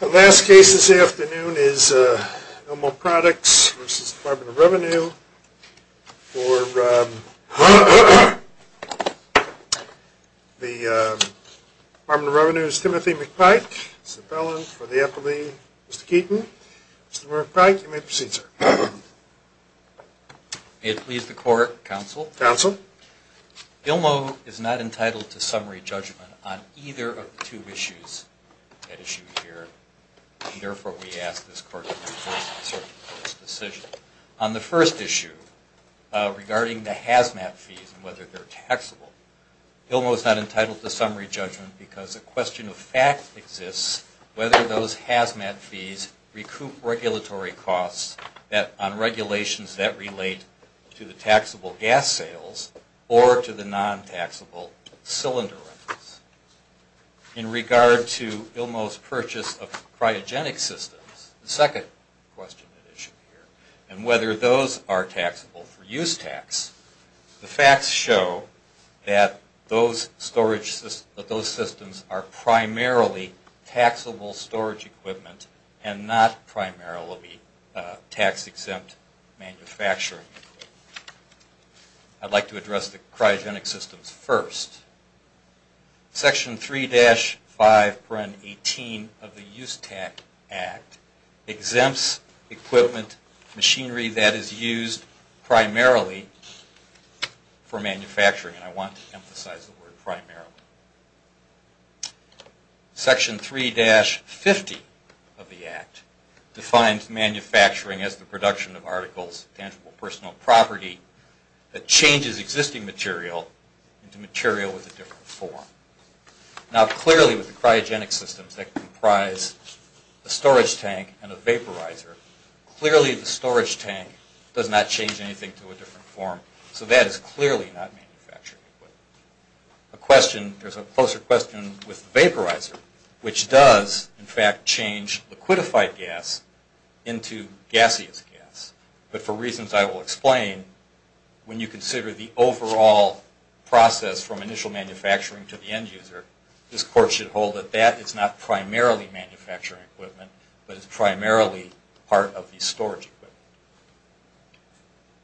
The last case this afternoon is ILMO Products v. Department of Revenue for the Department of Revenue's Timothy McPike. It's the felon for the affidavit, Mr. Keaton. Mr. McPike, you may proceed, sir. May it please the court, counsel. Counsel. ILMO is not entitled to summary judgment on either of the two issues at issue here. Therefore, we ask this court to reverse its decision. On the first issue, regarding the HAZMAT fees and whether they're taxable, ILMO is not entitled to summary judgment because a question of fact exists whether those HAZMAT fees recoup regulatory costs on regulations that relate to the taxable gas sales or to the non-taxable cylinder rentals. In regard to ILMO's purchase of cryogenic systems, the second question at issue here, and whether those are taxable for use tax, the facts show that those systems are primarily taxable storage equipment and not primarily tax-exempt manufacturing. I'd like to address the cryogenic systems first. Section 3-5.18 of the Use Tax Act exempts equipment, machinery that is used primarily for manufacturing. And I want to emphasize the word primarily. Section 3-50 of the Act defines manufacturing as the production of articles of tangible personal property that changes existing material into material with a different form. Now clearly with the cryogenic systems that comprise a storage tank and a vaporizer, clearly the storage tank does not change anything to a different form. So that is clearly not manufacturing equipment. A question, there's a closer question with the vaporizer, which does in fact change liquidified gas into gaseous gas. But for reasons I will explain, when you consider the overall process from initial manufacturing to the end user, this Court should hold that that is not primarily manufacturing equipment, but is primarily part of the storage equipment.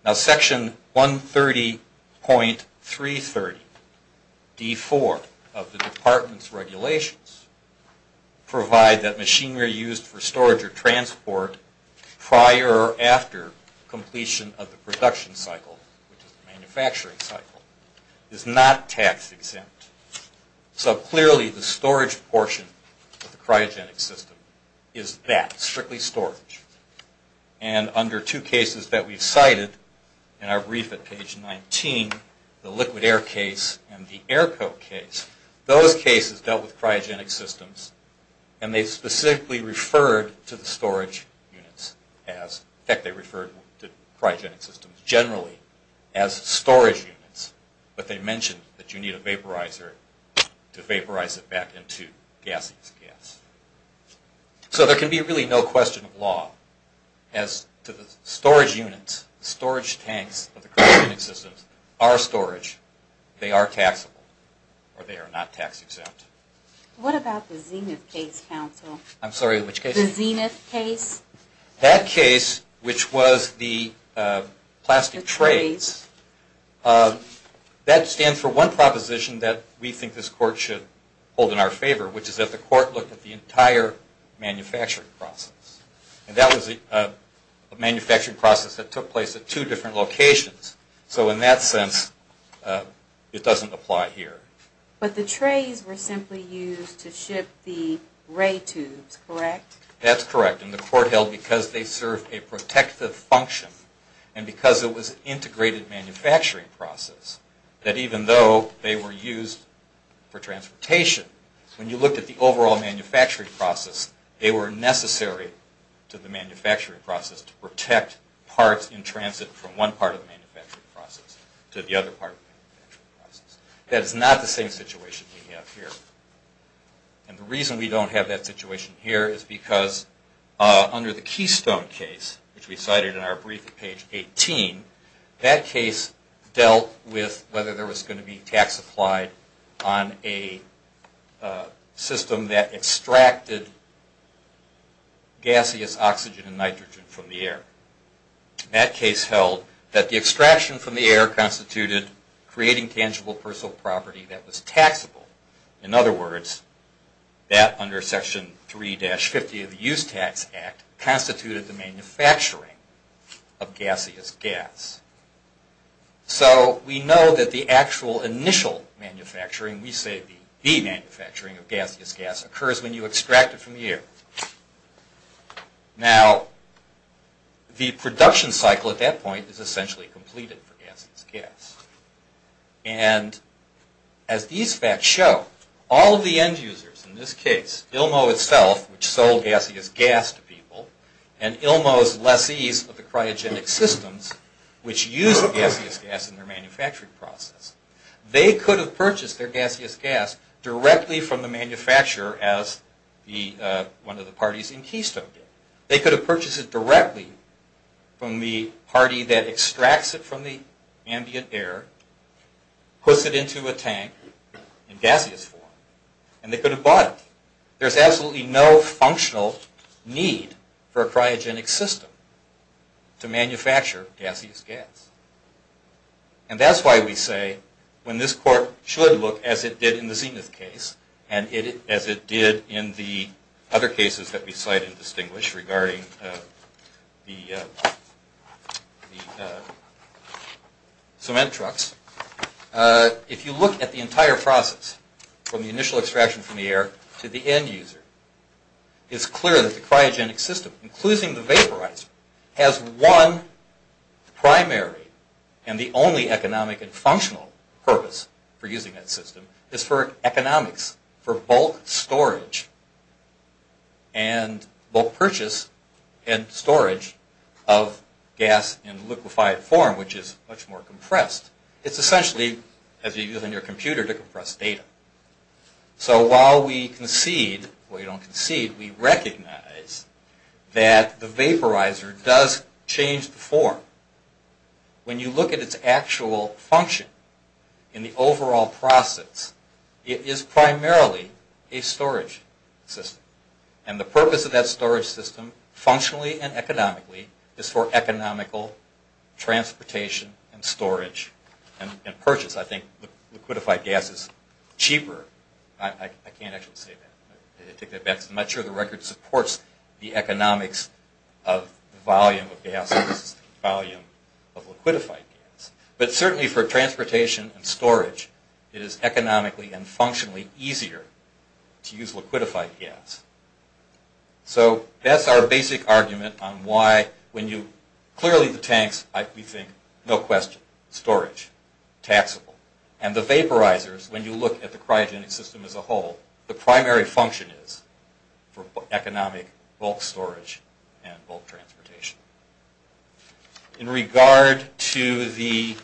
Now Section 130.330-D4 of the Department's regulations provide that machinery used for storage or transport prior or after completion of the production cycle, which is the manufacturing cycle, is not tax-exempt. So clearly the storage portion of the cryogenic system is that, strictly storage. And under two cases that we've cited in our brief at page 19, the liquid air case and the air coat case, those cases dealt with cryogenic systems and they specifically referred to the storage units as, in fact they referred to cryogenic systems generally as storage units, but they mentioned that you need a vaporizer to vaporize it back into gaseous gas. So there can be really no question of law as to the storage units, storage tanks of the cryogenic systems are storage, they are taxable, or they are not tax-exempt. What about the Zenith case, counsel? I'm sorry, which case? The Zenith case. That case, which was the plastic trays, that stands for one proposition that we think this Court should hold in our favor, which is that the Court look at the entire manufacturing process. And that was a manufacturing process that took place at two different locations, so in that sense it doesn't apply here. But the trays were simply used to ship the ray tubes, correct? That's correct, and the Court held because they served a protective function, and because it was an integrated manufacturing process, that even though they were used for transportation, when you looked at the overall manufacturing process, they were necessary to the manufacturing process to protect parts in transit from one part of the manufacturing process to the other part of the manufacturing process. That is not the same situation we have here. And the reason we don't have that situation here is because under the Keystone case, which we cited in our briefing page 18, that case dealt with whether there was going to be tax applied on a system that extracted gaseous oxygen and nitrogen from the air. That case held that the extraction from the air constituted creating tangible personal property that was taxable. In other words, that under Section 3-50 of the Use Tax Act constituted the manufacturing of gaseous gas. So we know that the actual initial manufacturing, we say the manufacturing of gaseous gas, occurs when you extract it from the air. Now, the production cycle at that point is essentially completed for gaseous gas. And as these facts show, all of the end users in this case, Ilmo itself, which sold gaseous gas to people, and Ilmo's lessees of the cryogenic systems, which used gaseous gas in their manufacturing process, they could have purchased their gaseous gas directly from the manufacturer as one of the parties in Keystone did. They could have purchased it directly from the party that extracts it from the ambient air, puts it into a tank in gaseous form, and they could have bought it. There's absolutely no functional need for a cryogenic system to manufacture gaseous gas. And that's why we say when this court should look, as it did in the Zenith case, and as it did in the other cases that we cite and distinguish regarding the cement trucks, if you look at the entire process from the initial extraction from the air to the end user, it's clear that the cryogenic system, including the vaporizer, has one primary and the only economic and functional purpose for using that system, is for economics, for bulk storage and bulk purchase and storage of gas in liquefied form, which is much more compressed. It's essentially, as you use on your computer, to compress data. So while we concede, or we don't concede, we recognize that the vaporizer does change the form. When you look at its actual function in the overall process, it is primarily a storage system. And the purpose of that storage system, functionally and economically, is for economical transportation and storage and purchase. I think liquefied gas is cheaper. I can't actually say that. I take that back. I'm not sure the record supports the economics of volume of gas versus volume of liquefied gas. But certainly for transportation and storage, it is economically and functionally easier to use liquefied gas. So that's our basic argument on why, when you, clearly the tanks, we think, no question, storage, taxable. And the vaporizers, when you look at the cryogenic system as a whole, the primary function is for economic bulk storage and bulk transportation. In regard to the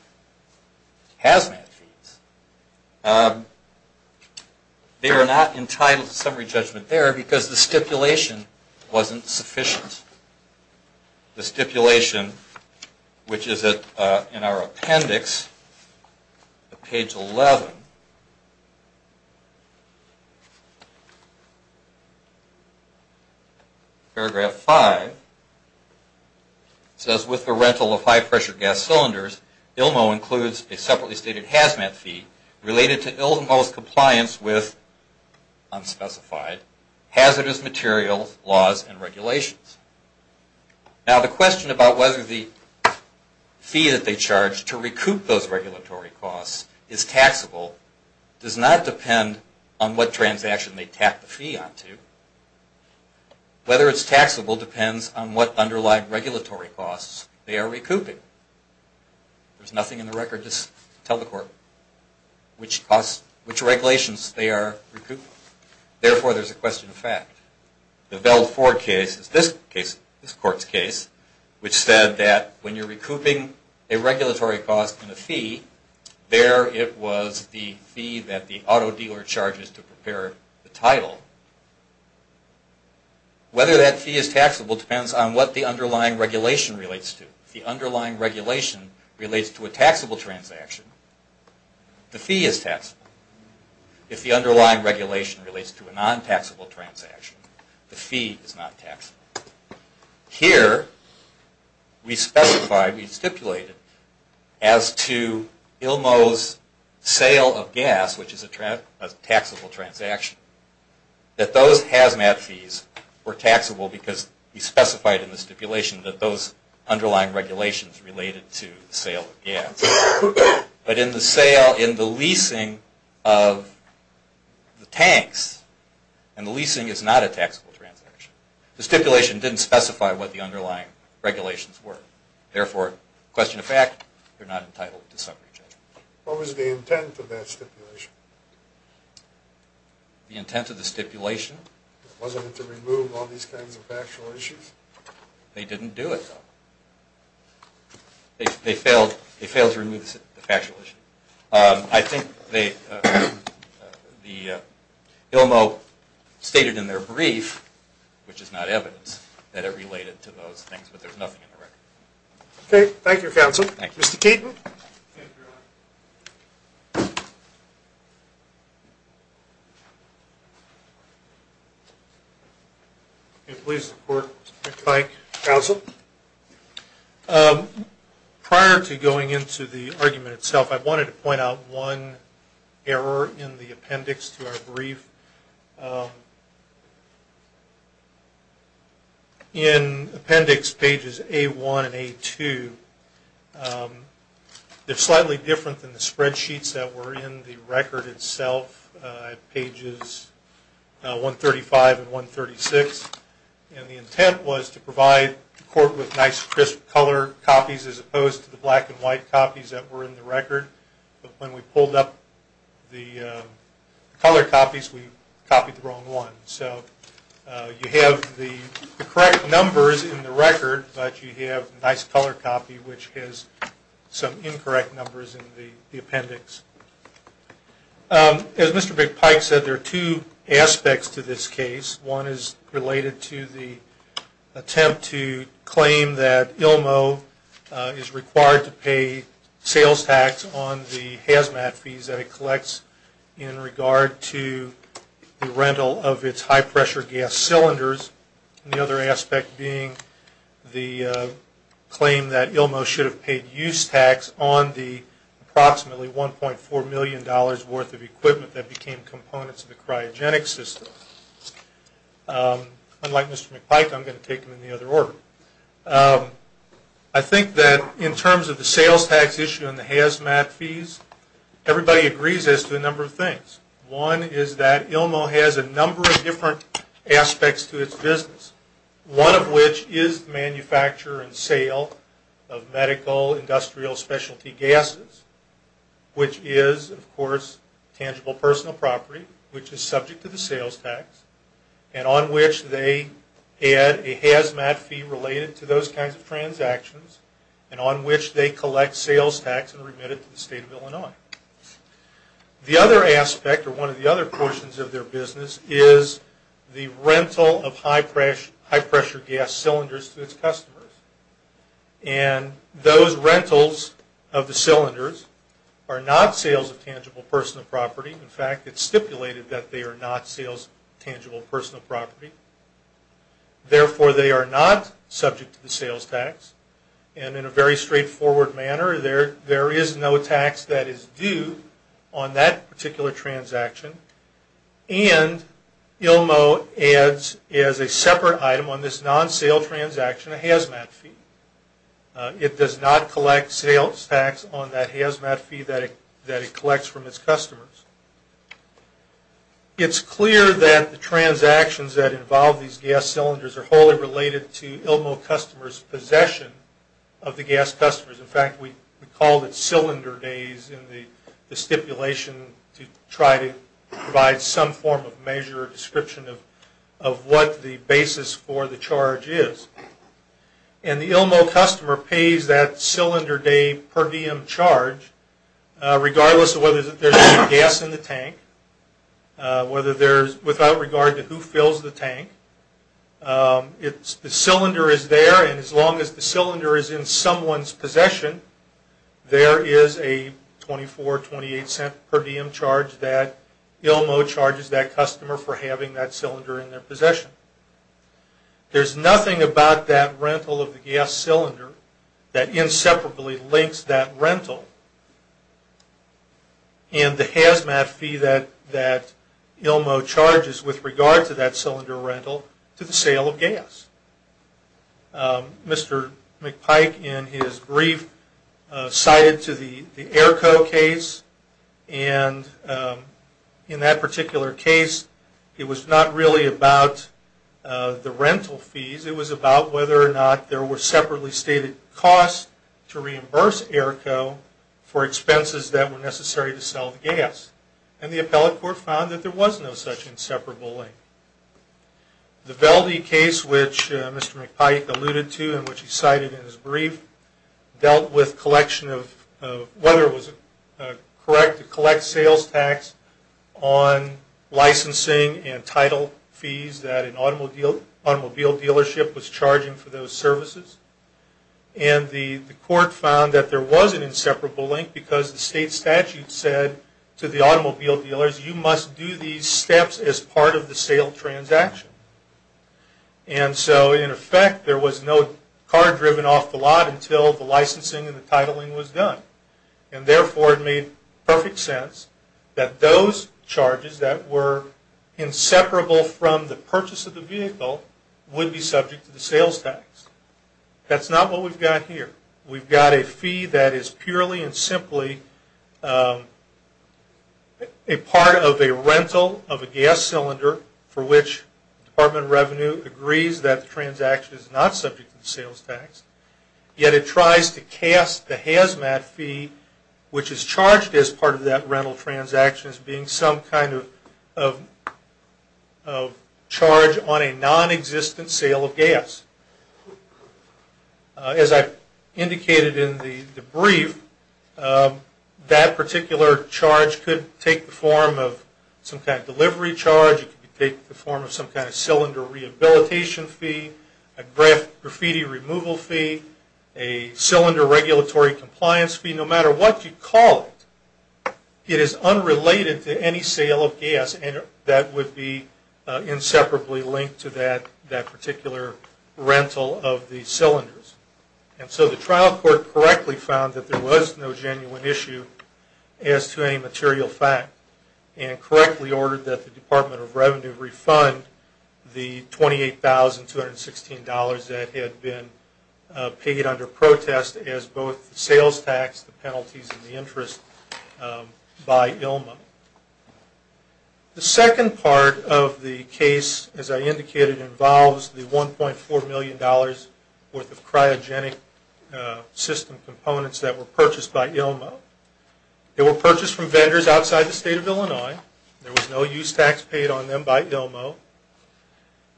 hazmat feeds, they are not entitled to summary judgment there because the stipulation wasn't sufficient. The stipulation, which is in our appendix, page 11, paragraph 5, says, with the rental of high-pressure gas cylinders, ILMO includes a separately stated hazmat feed related to ILMO's compliance with unspecified hazardous materials laws and regulations. Now, the question about whether the fee that they charge to recoup those regulatory costs is taxable does not depend on what transaction they tap the fee onto. Whether it's taxable depends on what underlying regulatory costs they are recouping. There's nothing in the record to tell the court which costs, which regulations they are recouping. Therefore, there's a question of fact. The Bell Ford case is this case, this court's case, which said that when you're recouping a regulatory cost in a fee, there it was the fee that the auto dealer charges to prepare the title. Whether that fee is taxable depends on what the underlying regulation relates to. If the underlying regulation relates to a taxable transaction, the fee is taxable. If the underlying regulation relates to a non-taxable transaction, the fee is not taxable. Here, we specified, we stipulated, as to ILMO's sale of gas, which is a taxable transaction, that those HAZMAT fees were taxable because we specified in the stipulation that those underlying regulations related to the sale of gas. But in the sale, in the leasing of the tanks, and the leasing is not a taxable transaction, the stipulation didn't specify what the underlying regulations were. Therefore, question of fact, they're not entitled to summary judgment. What was the intent of that stipulation? The intent of the stipulation? Wasn't it to remove all these kinds of factual issues? They didn't do it, though. They failed to remove the factual issue. I think the ILMO stated in their brief, which is not evidence, that it related to those things, but there's nothing in the record. Okay. Thank you, counsel. Thank you. Mr. Caton. Please report, Mike. Counsel. Prior to going into the argument itself, I wanted to point out one error in the appendix to our brief. In appendix pages A1 and A2, they're slightly different than the spreadsheets that were in the record itself, pages 135 and 136. And the intent was to provide the court with nice, crisp color copies as opposed to the black and white copies that were in the record. But when we pulled up the color copies, we copied the wrong one. So you have the correct numbers in the record, but you have nice color copy, which has some incorrect numbers in the appendix. As Mr. McPike said, there are two aspects to this case. One is related to the attempt to claim that ILMO is required to pay sales tax on the HAZMAT fees that it collects in regard to the rental of its high-pressure gas cylinders, and the other aspect being the claim that ILMO should have paid use tax on the approximately $1.4 million worth of Unlike Mr. McPike, I'm going to take him in the other order. I think that in terms of the sales tax issue and the HAZMAT fees, everybody agrees as to a number of things. One is that ILMO has a number of different aspects to its business, one of which is manufacture and sale of medical industrial specialty gases, which is, of course, tangible personal property, which is subject to the sales tax, and on which they add a HAZMAT fee related to those kinds of transactions, and on which they collect sales tax and remit it to the State of Illinois. The other aspect, or one of the other portions of their business, is the rental of high-pressure gas cylinders to its customers. And those rentals of the cylinders are not sales of tangible personal property. In fact, it's stipulated that they are not sales of tangible personal property. Therefore, they are not subject to the sales tax. And in a very straightforward manner, there is no tax that is due on that particular transaction, and ILMO adds as a separate item on this non-sale transaction a HAZMAT fee. It does not collect sales tax on that HAZMAT fee that it collects from its customers. It's clear that the transactions that involve these gas cylinders are wholly related to ILMO customers' possession of the gas customers. In fact, we call it cylinder days in the stipulation to try to provide some form of measure or description of what the basis for the charge is. And the ILMO customer pays that cylinder day per diem charge, regardless of whether there's any gas in the tank, without regard to who fills the tank. The cylinder is there, and as long as the cylinder is in someone's possession, there is a $0.24, $0.28 per diem charge that ILMO charges that customer for having that cylinder in their possession. There's nothing about that rental of the gas cylinder that inseparably links that rental and the HAZMAT fee that ILMO charges with regard to that cylinder rental to the sale of gas. Mr. McPike, in his brief, cited to the AERCO case, and in that particular case, it was not really about the rental fees. It was about whether or not there were separately stated costs to reimburse AERCO for expenses that were necessary to sell the gas. And the appellate court found that there was no such inseparable link. The Velde case, which Mr. McPike alluded to and which he cited in his brief, dealt with whether it was correct to collect sales tax on licensing and title fees that an automobile dealership was charging for those services. And the court found that there was an inseparable link because the state statute said to the automobile dealers, you must do these steps as part of the sale transaction. And so, in effect, there was no car driven off the lot until the licensing and the titling was done. And therefore, it made perfect sense that those charges that were inseparable from the purchase of the vehicle would be subject to the sales tax. That's not what we've got here. We've got a fee that is purely and simply a part of a rental of a gas cylinder for which the Department of Revenue agrees that the transaction is not subject to the sales tax, yet it tries to cast the HAZMAT fee, which is charged as part of that rental transaction, as being some kind of charge on a non-existent sale of gas. As I indicated in the brief, that particular charge could take the form of some kind of delivery charge. It could take the form of some kind of cylinder rehabilitation fee, a graffiti removal fee, a cylinder regulatory compliance fee. No matter what you call it, it is unrelated to any sale of gas and that would be inseparably linked to that particular rental of the cylinders. And so the trial court correctly found that there was no genuine issue as to any material fact and correctly ordered that the Department of Revenue refund the $28,216 that had been paid under protest as both the sales tax, the penalties, and the interest by ILMO. The second part of the case, as I indicated, involves the $1.4 million worth of cryogenic system components that were purchased by ILMO. They were purchased from vendors outside the state of Illinois. There was no use tax paid on them by ILMO.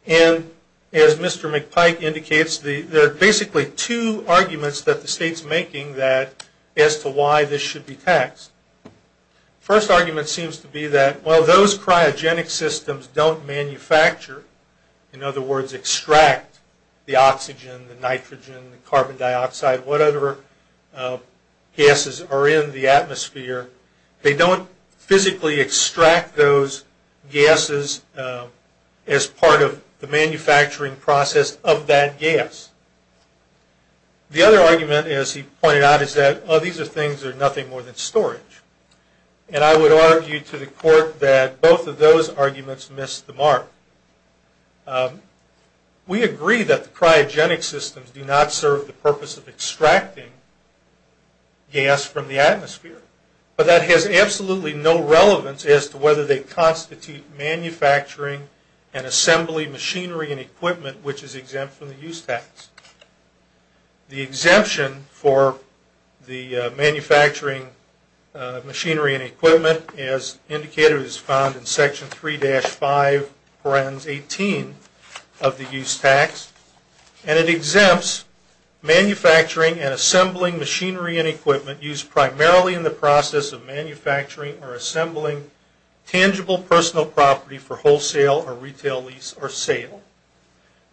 And as Mr. McPike indicates, there are basically two arguments that the state is making as to why this should be taxed. The first argument seems to be that while those cryogenic systems don't manufacture, in other words, extract the oxygen, the nitrogen, the carbon dioxide, whatever gases are in the atmosphere, they don't physically extract those gases as part of the manufacturing process of that gas. The other argument, as he pointed out, is that these are things that are nothing more than storage. And I would argue to the court that both of those arguments miss the mark. We agree that the cryogenic systems do not serve the purpose of extracting gas from the atmosphere. But that has absolutely no relevance as to whether they constitute manufacturing and assembly machinery and equipment, which is exempt from the use tax. The exemption for the manufacturing machinery and equipment, as indicated, is found in Section 3-5, Paragraph 18 of the use tax. And it exempts manufacturing and assembling machinery and equipment used primarily in the process of manufacturing or assembling tangible personal property for wholesale or retail lease or sale.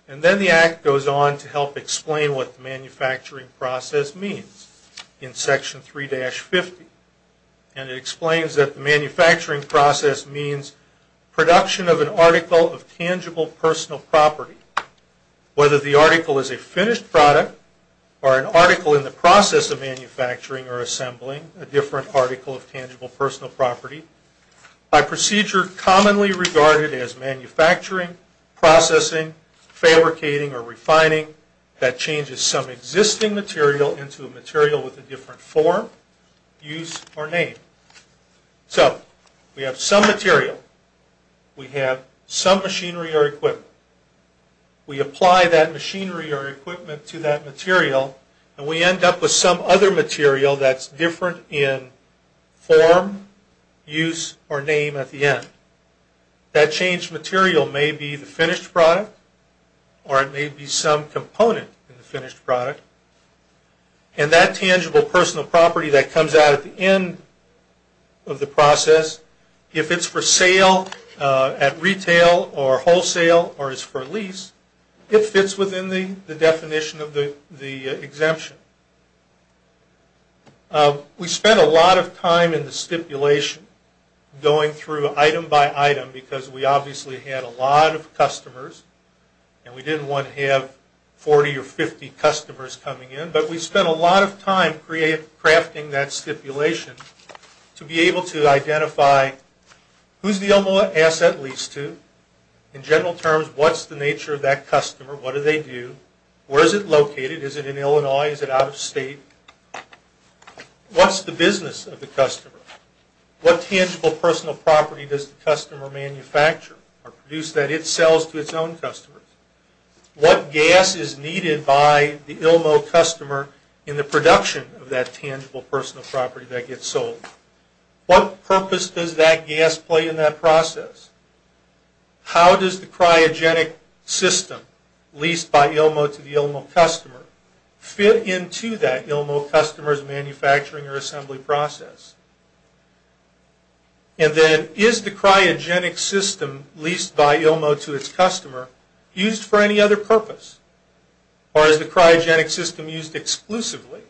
And then the Act goes on to help explain what the manufacturing process means in Section 3-50. And it explains that the manufacturing process means production of an article of tangible personal property. Whether the article is a finished product or an article in the process of manufacturing or assembling a different article of tangible personal property, by procedure commonly regarded as manufacturing, processing, fabricating, or refining, that changes some existing material into a material with a different form, use, or name. So we have some material. We have some machinery or equipment. We apply that machinery or equipment to that material, and we end up with some other material that's different in form, use, or name at the end. That changed material may be the finished product or it may be some component in the finished product. And that tangible personal property that comes out at the end of the process, if it's for sale at retail or wholesale or is for lease, it fits within the definition of the exemption. We spent a lot of time in the stipulation going through item by item because we obviously had a lot of customers, and we didn't want to have 40 or 50 customers coming in. But we spent a lot of time crafting that stipulation to be able to identify who's the only asset leased to. In general terms, what's the nature of that customer? What do they do? Where is it located? Is it in Illinois? Is it out of state? What's the business of the customer? What tangible personal property does the customer manufacture or produce that it sells to its own customers? What gas is needed by the ILMO customer in the production of that tangible personal property that gets sold? What purpose does that gas play in that process? How does the cryogenic system leased by ILMO to the ILMO customer fit into that ILMO customer's manufacturing or assembly process? And then is the cryogenic system leased by ILMO to its customer used for any other purpose? Or is the cryogenic system used exclusively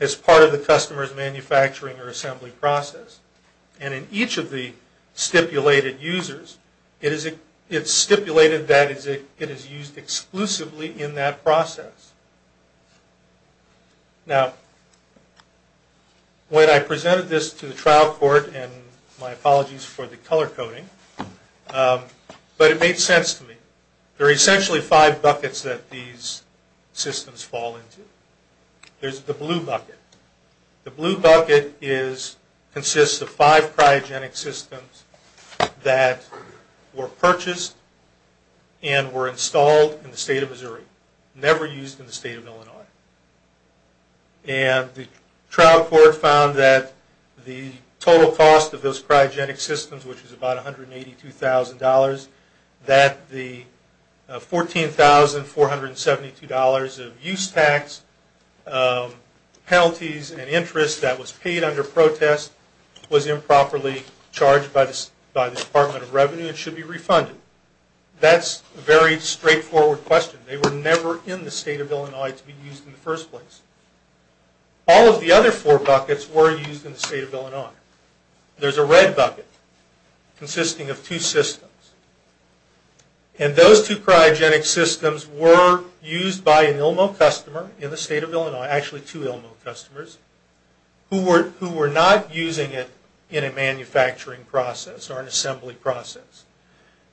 as part of the customer's manufacturing or assembly process? And in each of the stipulated users, it's stipulated that it is used exclusively in that process. Now, when I presented this to the trial court, and my apologies for the color coding, but it made sense to me. There are essentially five buckets that these systems fall into. There's the blue bucket. The blue bucket consists of five cryogenic systems that were purchased and were installed in the state of Missouri, never used in the state of Illinois. And the trial court found that the total cost of those cryogenic systems, which is about $182,000, that the $14,472 of use tax, penalties, and interest that was paid under protest was improperly charged by the Department of Revenue and should be refunded. That's a very straightforward question. They were never in the state of Illinois to be used in the first place. All of the other four buckets were used in the state of Illinois. There's a red bucket consisting of two systems. And those two cryogenic systems were used by an ILMO customer in the state of Illinois, actually two ILMO customers, who were not using it in a manufacturing process or an assembly process.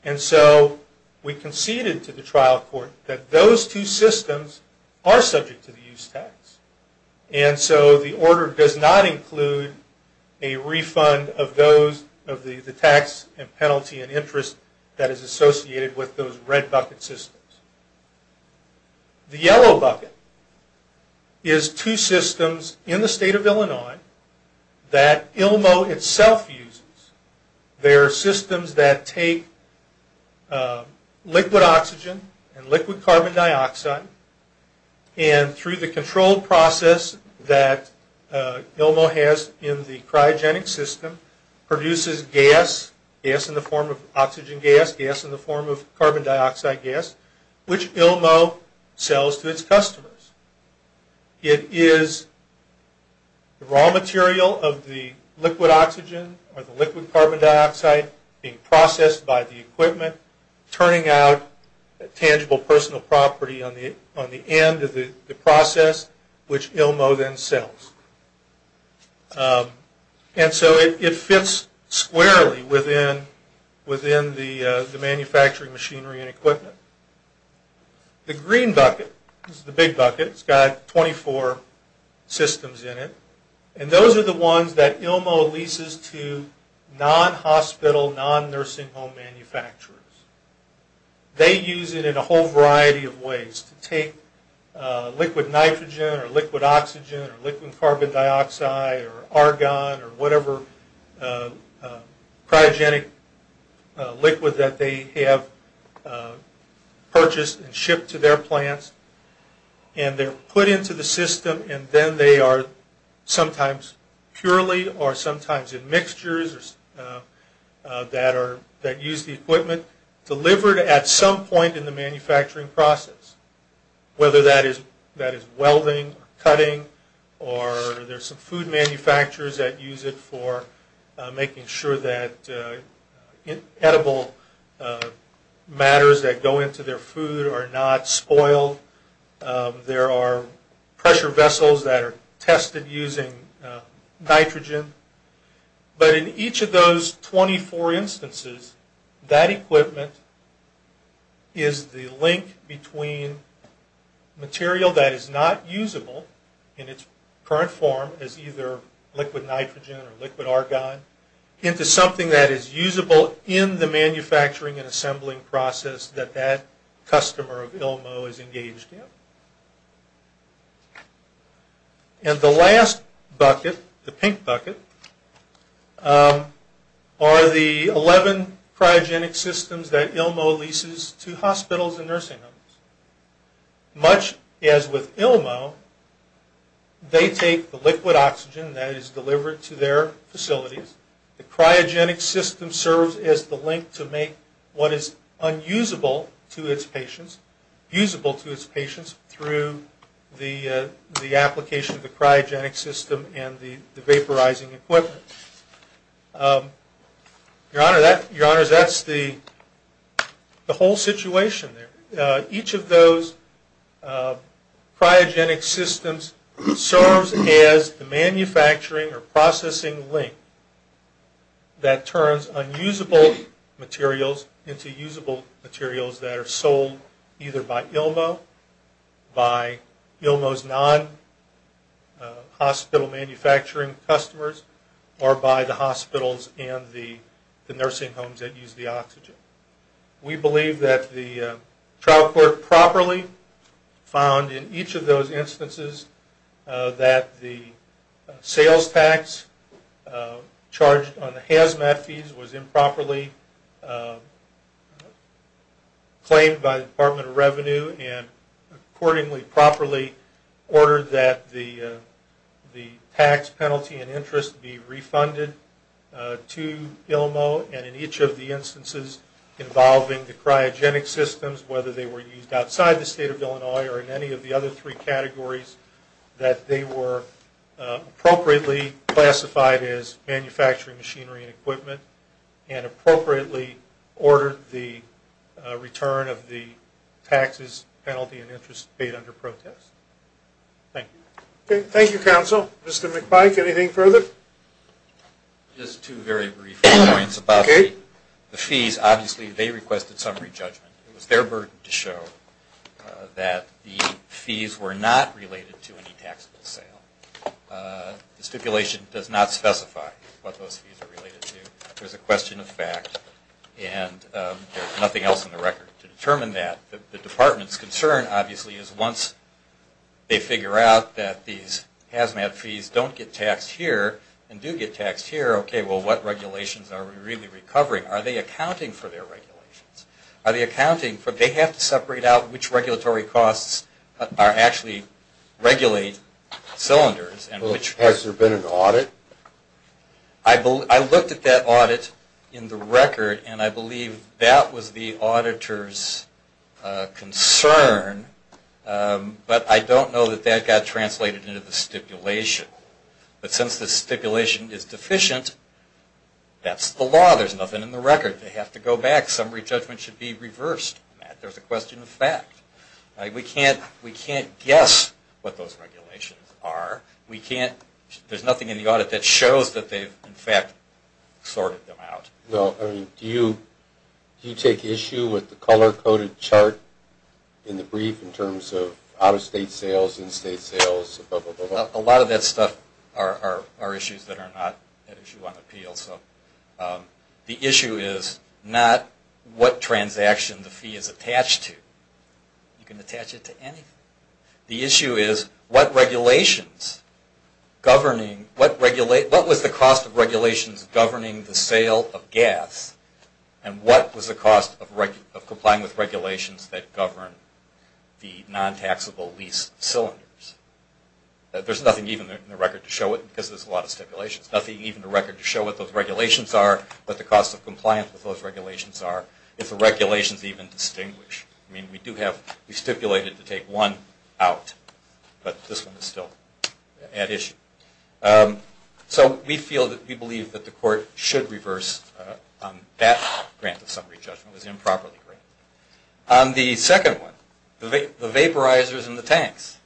And so we conceded to the trial court that those two systems are subject to the use tax. And so the order does not include a refund of those, of the tax and penalty and interest that is associated with those red bucket systems. The yellow bucket is two systems in the state of Illinois that ILMO itself uses. They're systems that take liquid oxygen and liquid carbon dioxide and through the controlled process that ILMO has in the cryogenic system, produces gas, gas in the form of oxygen gas, gas in the form of carbon dioxide gas, which ILMO sells to its customers. It is raw material of the liquid oxygen or the liquid carbon dioxide being processed by the equipment, turning out a tangible personal property on the end of the process, which ILMO then sells. And so it fits squarely within the manufacturing machinery and equipment. The green bucket is the big bucket. It's got 24 systems in it. And those are the ones that ILMO leases to non-hospital, non-nursing home manufacturers. They use it in a whole variety of ways to take liquid nitrogen or liquid oxygen or liquid carbon dioxide or argon or whatever cryogenic liquid that they have purchased and shipped to their plants. And they're put into the system and then they are sometimes purely or sometimes in mixtures that use the equipment delivered at some point in the manufacturing process, whether that is welding or cutting or there's some food manufacturers that use it for making sure that edible matters that go into their food are not spoiled. There are pressure vessels that are tested using nitrogen. But in each of those 24 instances, that equipment is the link between material that is not usable in its current form as either liquid nitrogen or liquid argon into something that is usable in the manufacturing and assembling process that that customer of ILMO is engaged in. And the last bucket, the pink bucket, are the 11 cryogenic systems that ILMO leases to hospitals and nursing homes. Much as with ILMO, they take the liquid oxygen that is delivered to their facilities. The cryogenic system serves as the link to make what is unusable to its patients usable to its patients through the application of the cryogenic system and the vaporizing equipment. Your Honor, that's the whole situation there. Each of those cryogenic systems serves as the manufacturing or processing link that turns unusable materials into usable materials that are sold either by ILMO, by ILMO's non-hospital manufacturing customers, or by the hospitals and the nursing homes that use the oxygen. We believe that the trial court properly found in each of those instances that the sales tax charged on the HAZMAT fees was improperly claimed by the Department of Revenue and accordingly properly ordered that the tax penalty and interest be refunded to ILMO. And in each of the instances involving the cryogenic systems, whether they were used outside the state of Illinois or in any of the other three categories, that they were appropriately classified as manufacturing machinery and equipment and appropriately ordered the return of the taxes, penalty, and interest paid under protest. Thank you. Thank you, counsel. Mr. McPike, anything further? Just two very brief points about the fees. Obviously they requested summary judgment. It was their burden to show that the fees were not related to any taxable sale. The stipulation does not specify what those fees are related to. There's a question of fact and there's nothing else in the record to determine that. The department's concern obviously is once they figure out that these HAZMAT fees don't get taxed here and do get taxed here, okay, well, what regulations are we really recovering? Are they accounting for their regulations? Are they accounting for they have to separate out which regulatory costs actually regulate cylinders? Has there been an audit? I looked at that audit in the record and I believe that was the auditor's concern, but I don't know that that got translated into the stipulation. But since the stipulation is deficient, that's the law. There's nothing in the record. They have to go back. Summary judgment should be reversed. There's a question of fact. We can't guess what those regulations are. There's nothing in the audit that shows that they've in fact sorted them out. Do you take issue with the color-coded chart in the brief in terms of out-of-state sales, in-state sales, blah, blah, blah, blah? A lot of that stuff are issues that are not at issue on appeal. The issue is not what transaction the fee is attached to. You can attach it to anything. The issue is what was the cost of regulations governing the sale of gas and what was the cost of complying with regulations that govern the non-taxable lease cylinders? There's nothing even in the record to show it because there's a lot of stipulations. There's nothing even in the record to show what those regulations are, what the costs of compliance with those regulations are, if the regulations even distinguish. I mean, we do have stipulated to take one out, but this one is still at issue. So we feel that we believe that the court should reverse that grant of summary judgment. It was improperly granted. The second one, the vaporizers and the tanks.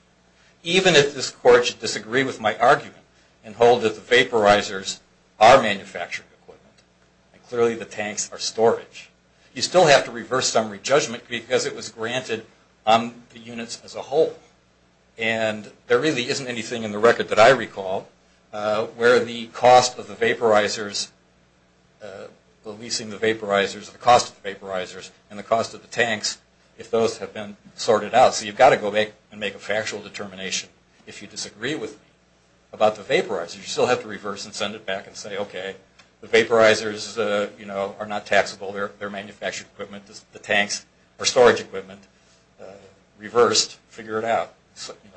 Even if this court should disagree with my argument and hold that the vaporizers are manufacturing equipment, and clearly the tanks are storage, you still have to reverse summary judgment because it was granted on the units as a whole. And there really isn't anything in the record that I recall where the cost of the vaporizers, the leasing the vaporizers, the cost of the vaporizers, and the cost of the tanks, if those have been sorted out. So you've got to go back and make a factual determination if you disagree with me about the vaporizers. You still have to reverse and send it back and say, okay, the vaporizers are not taxable. They're manufacturing equipment. The tanks are storage equipment. Reversed, figure it out.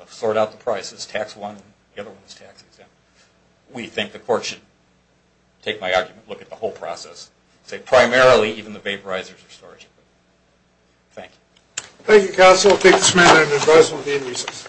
Sort out the prices. Tax one. The other one is tax exempt. We think the court should take my argument and look at the whole process. Say primarily even the vaporizers are storage equipment. Thank you. Thank you, counsel. I'll take this matter into advisement at the end of recess.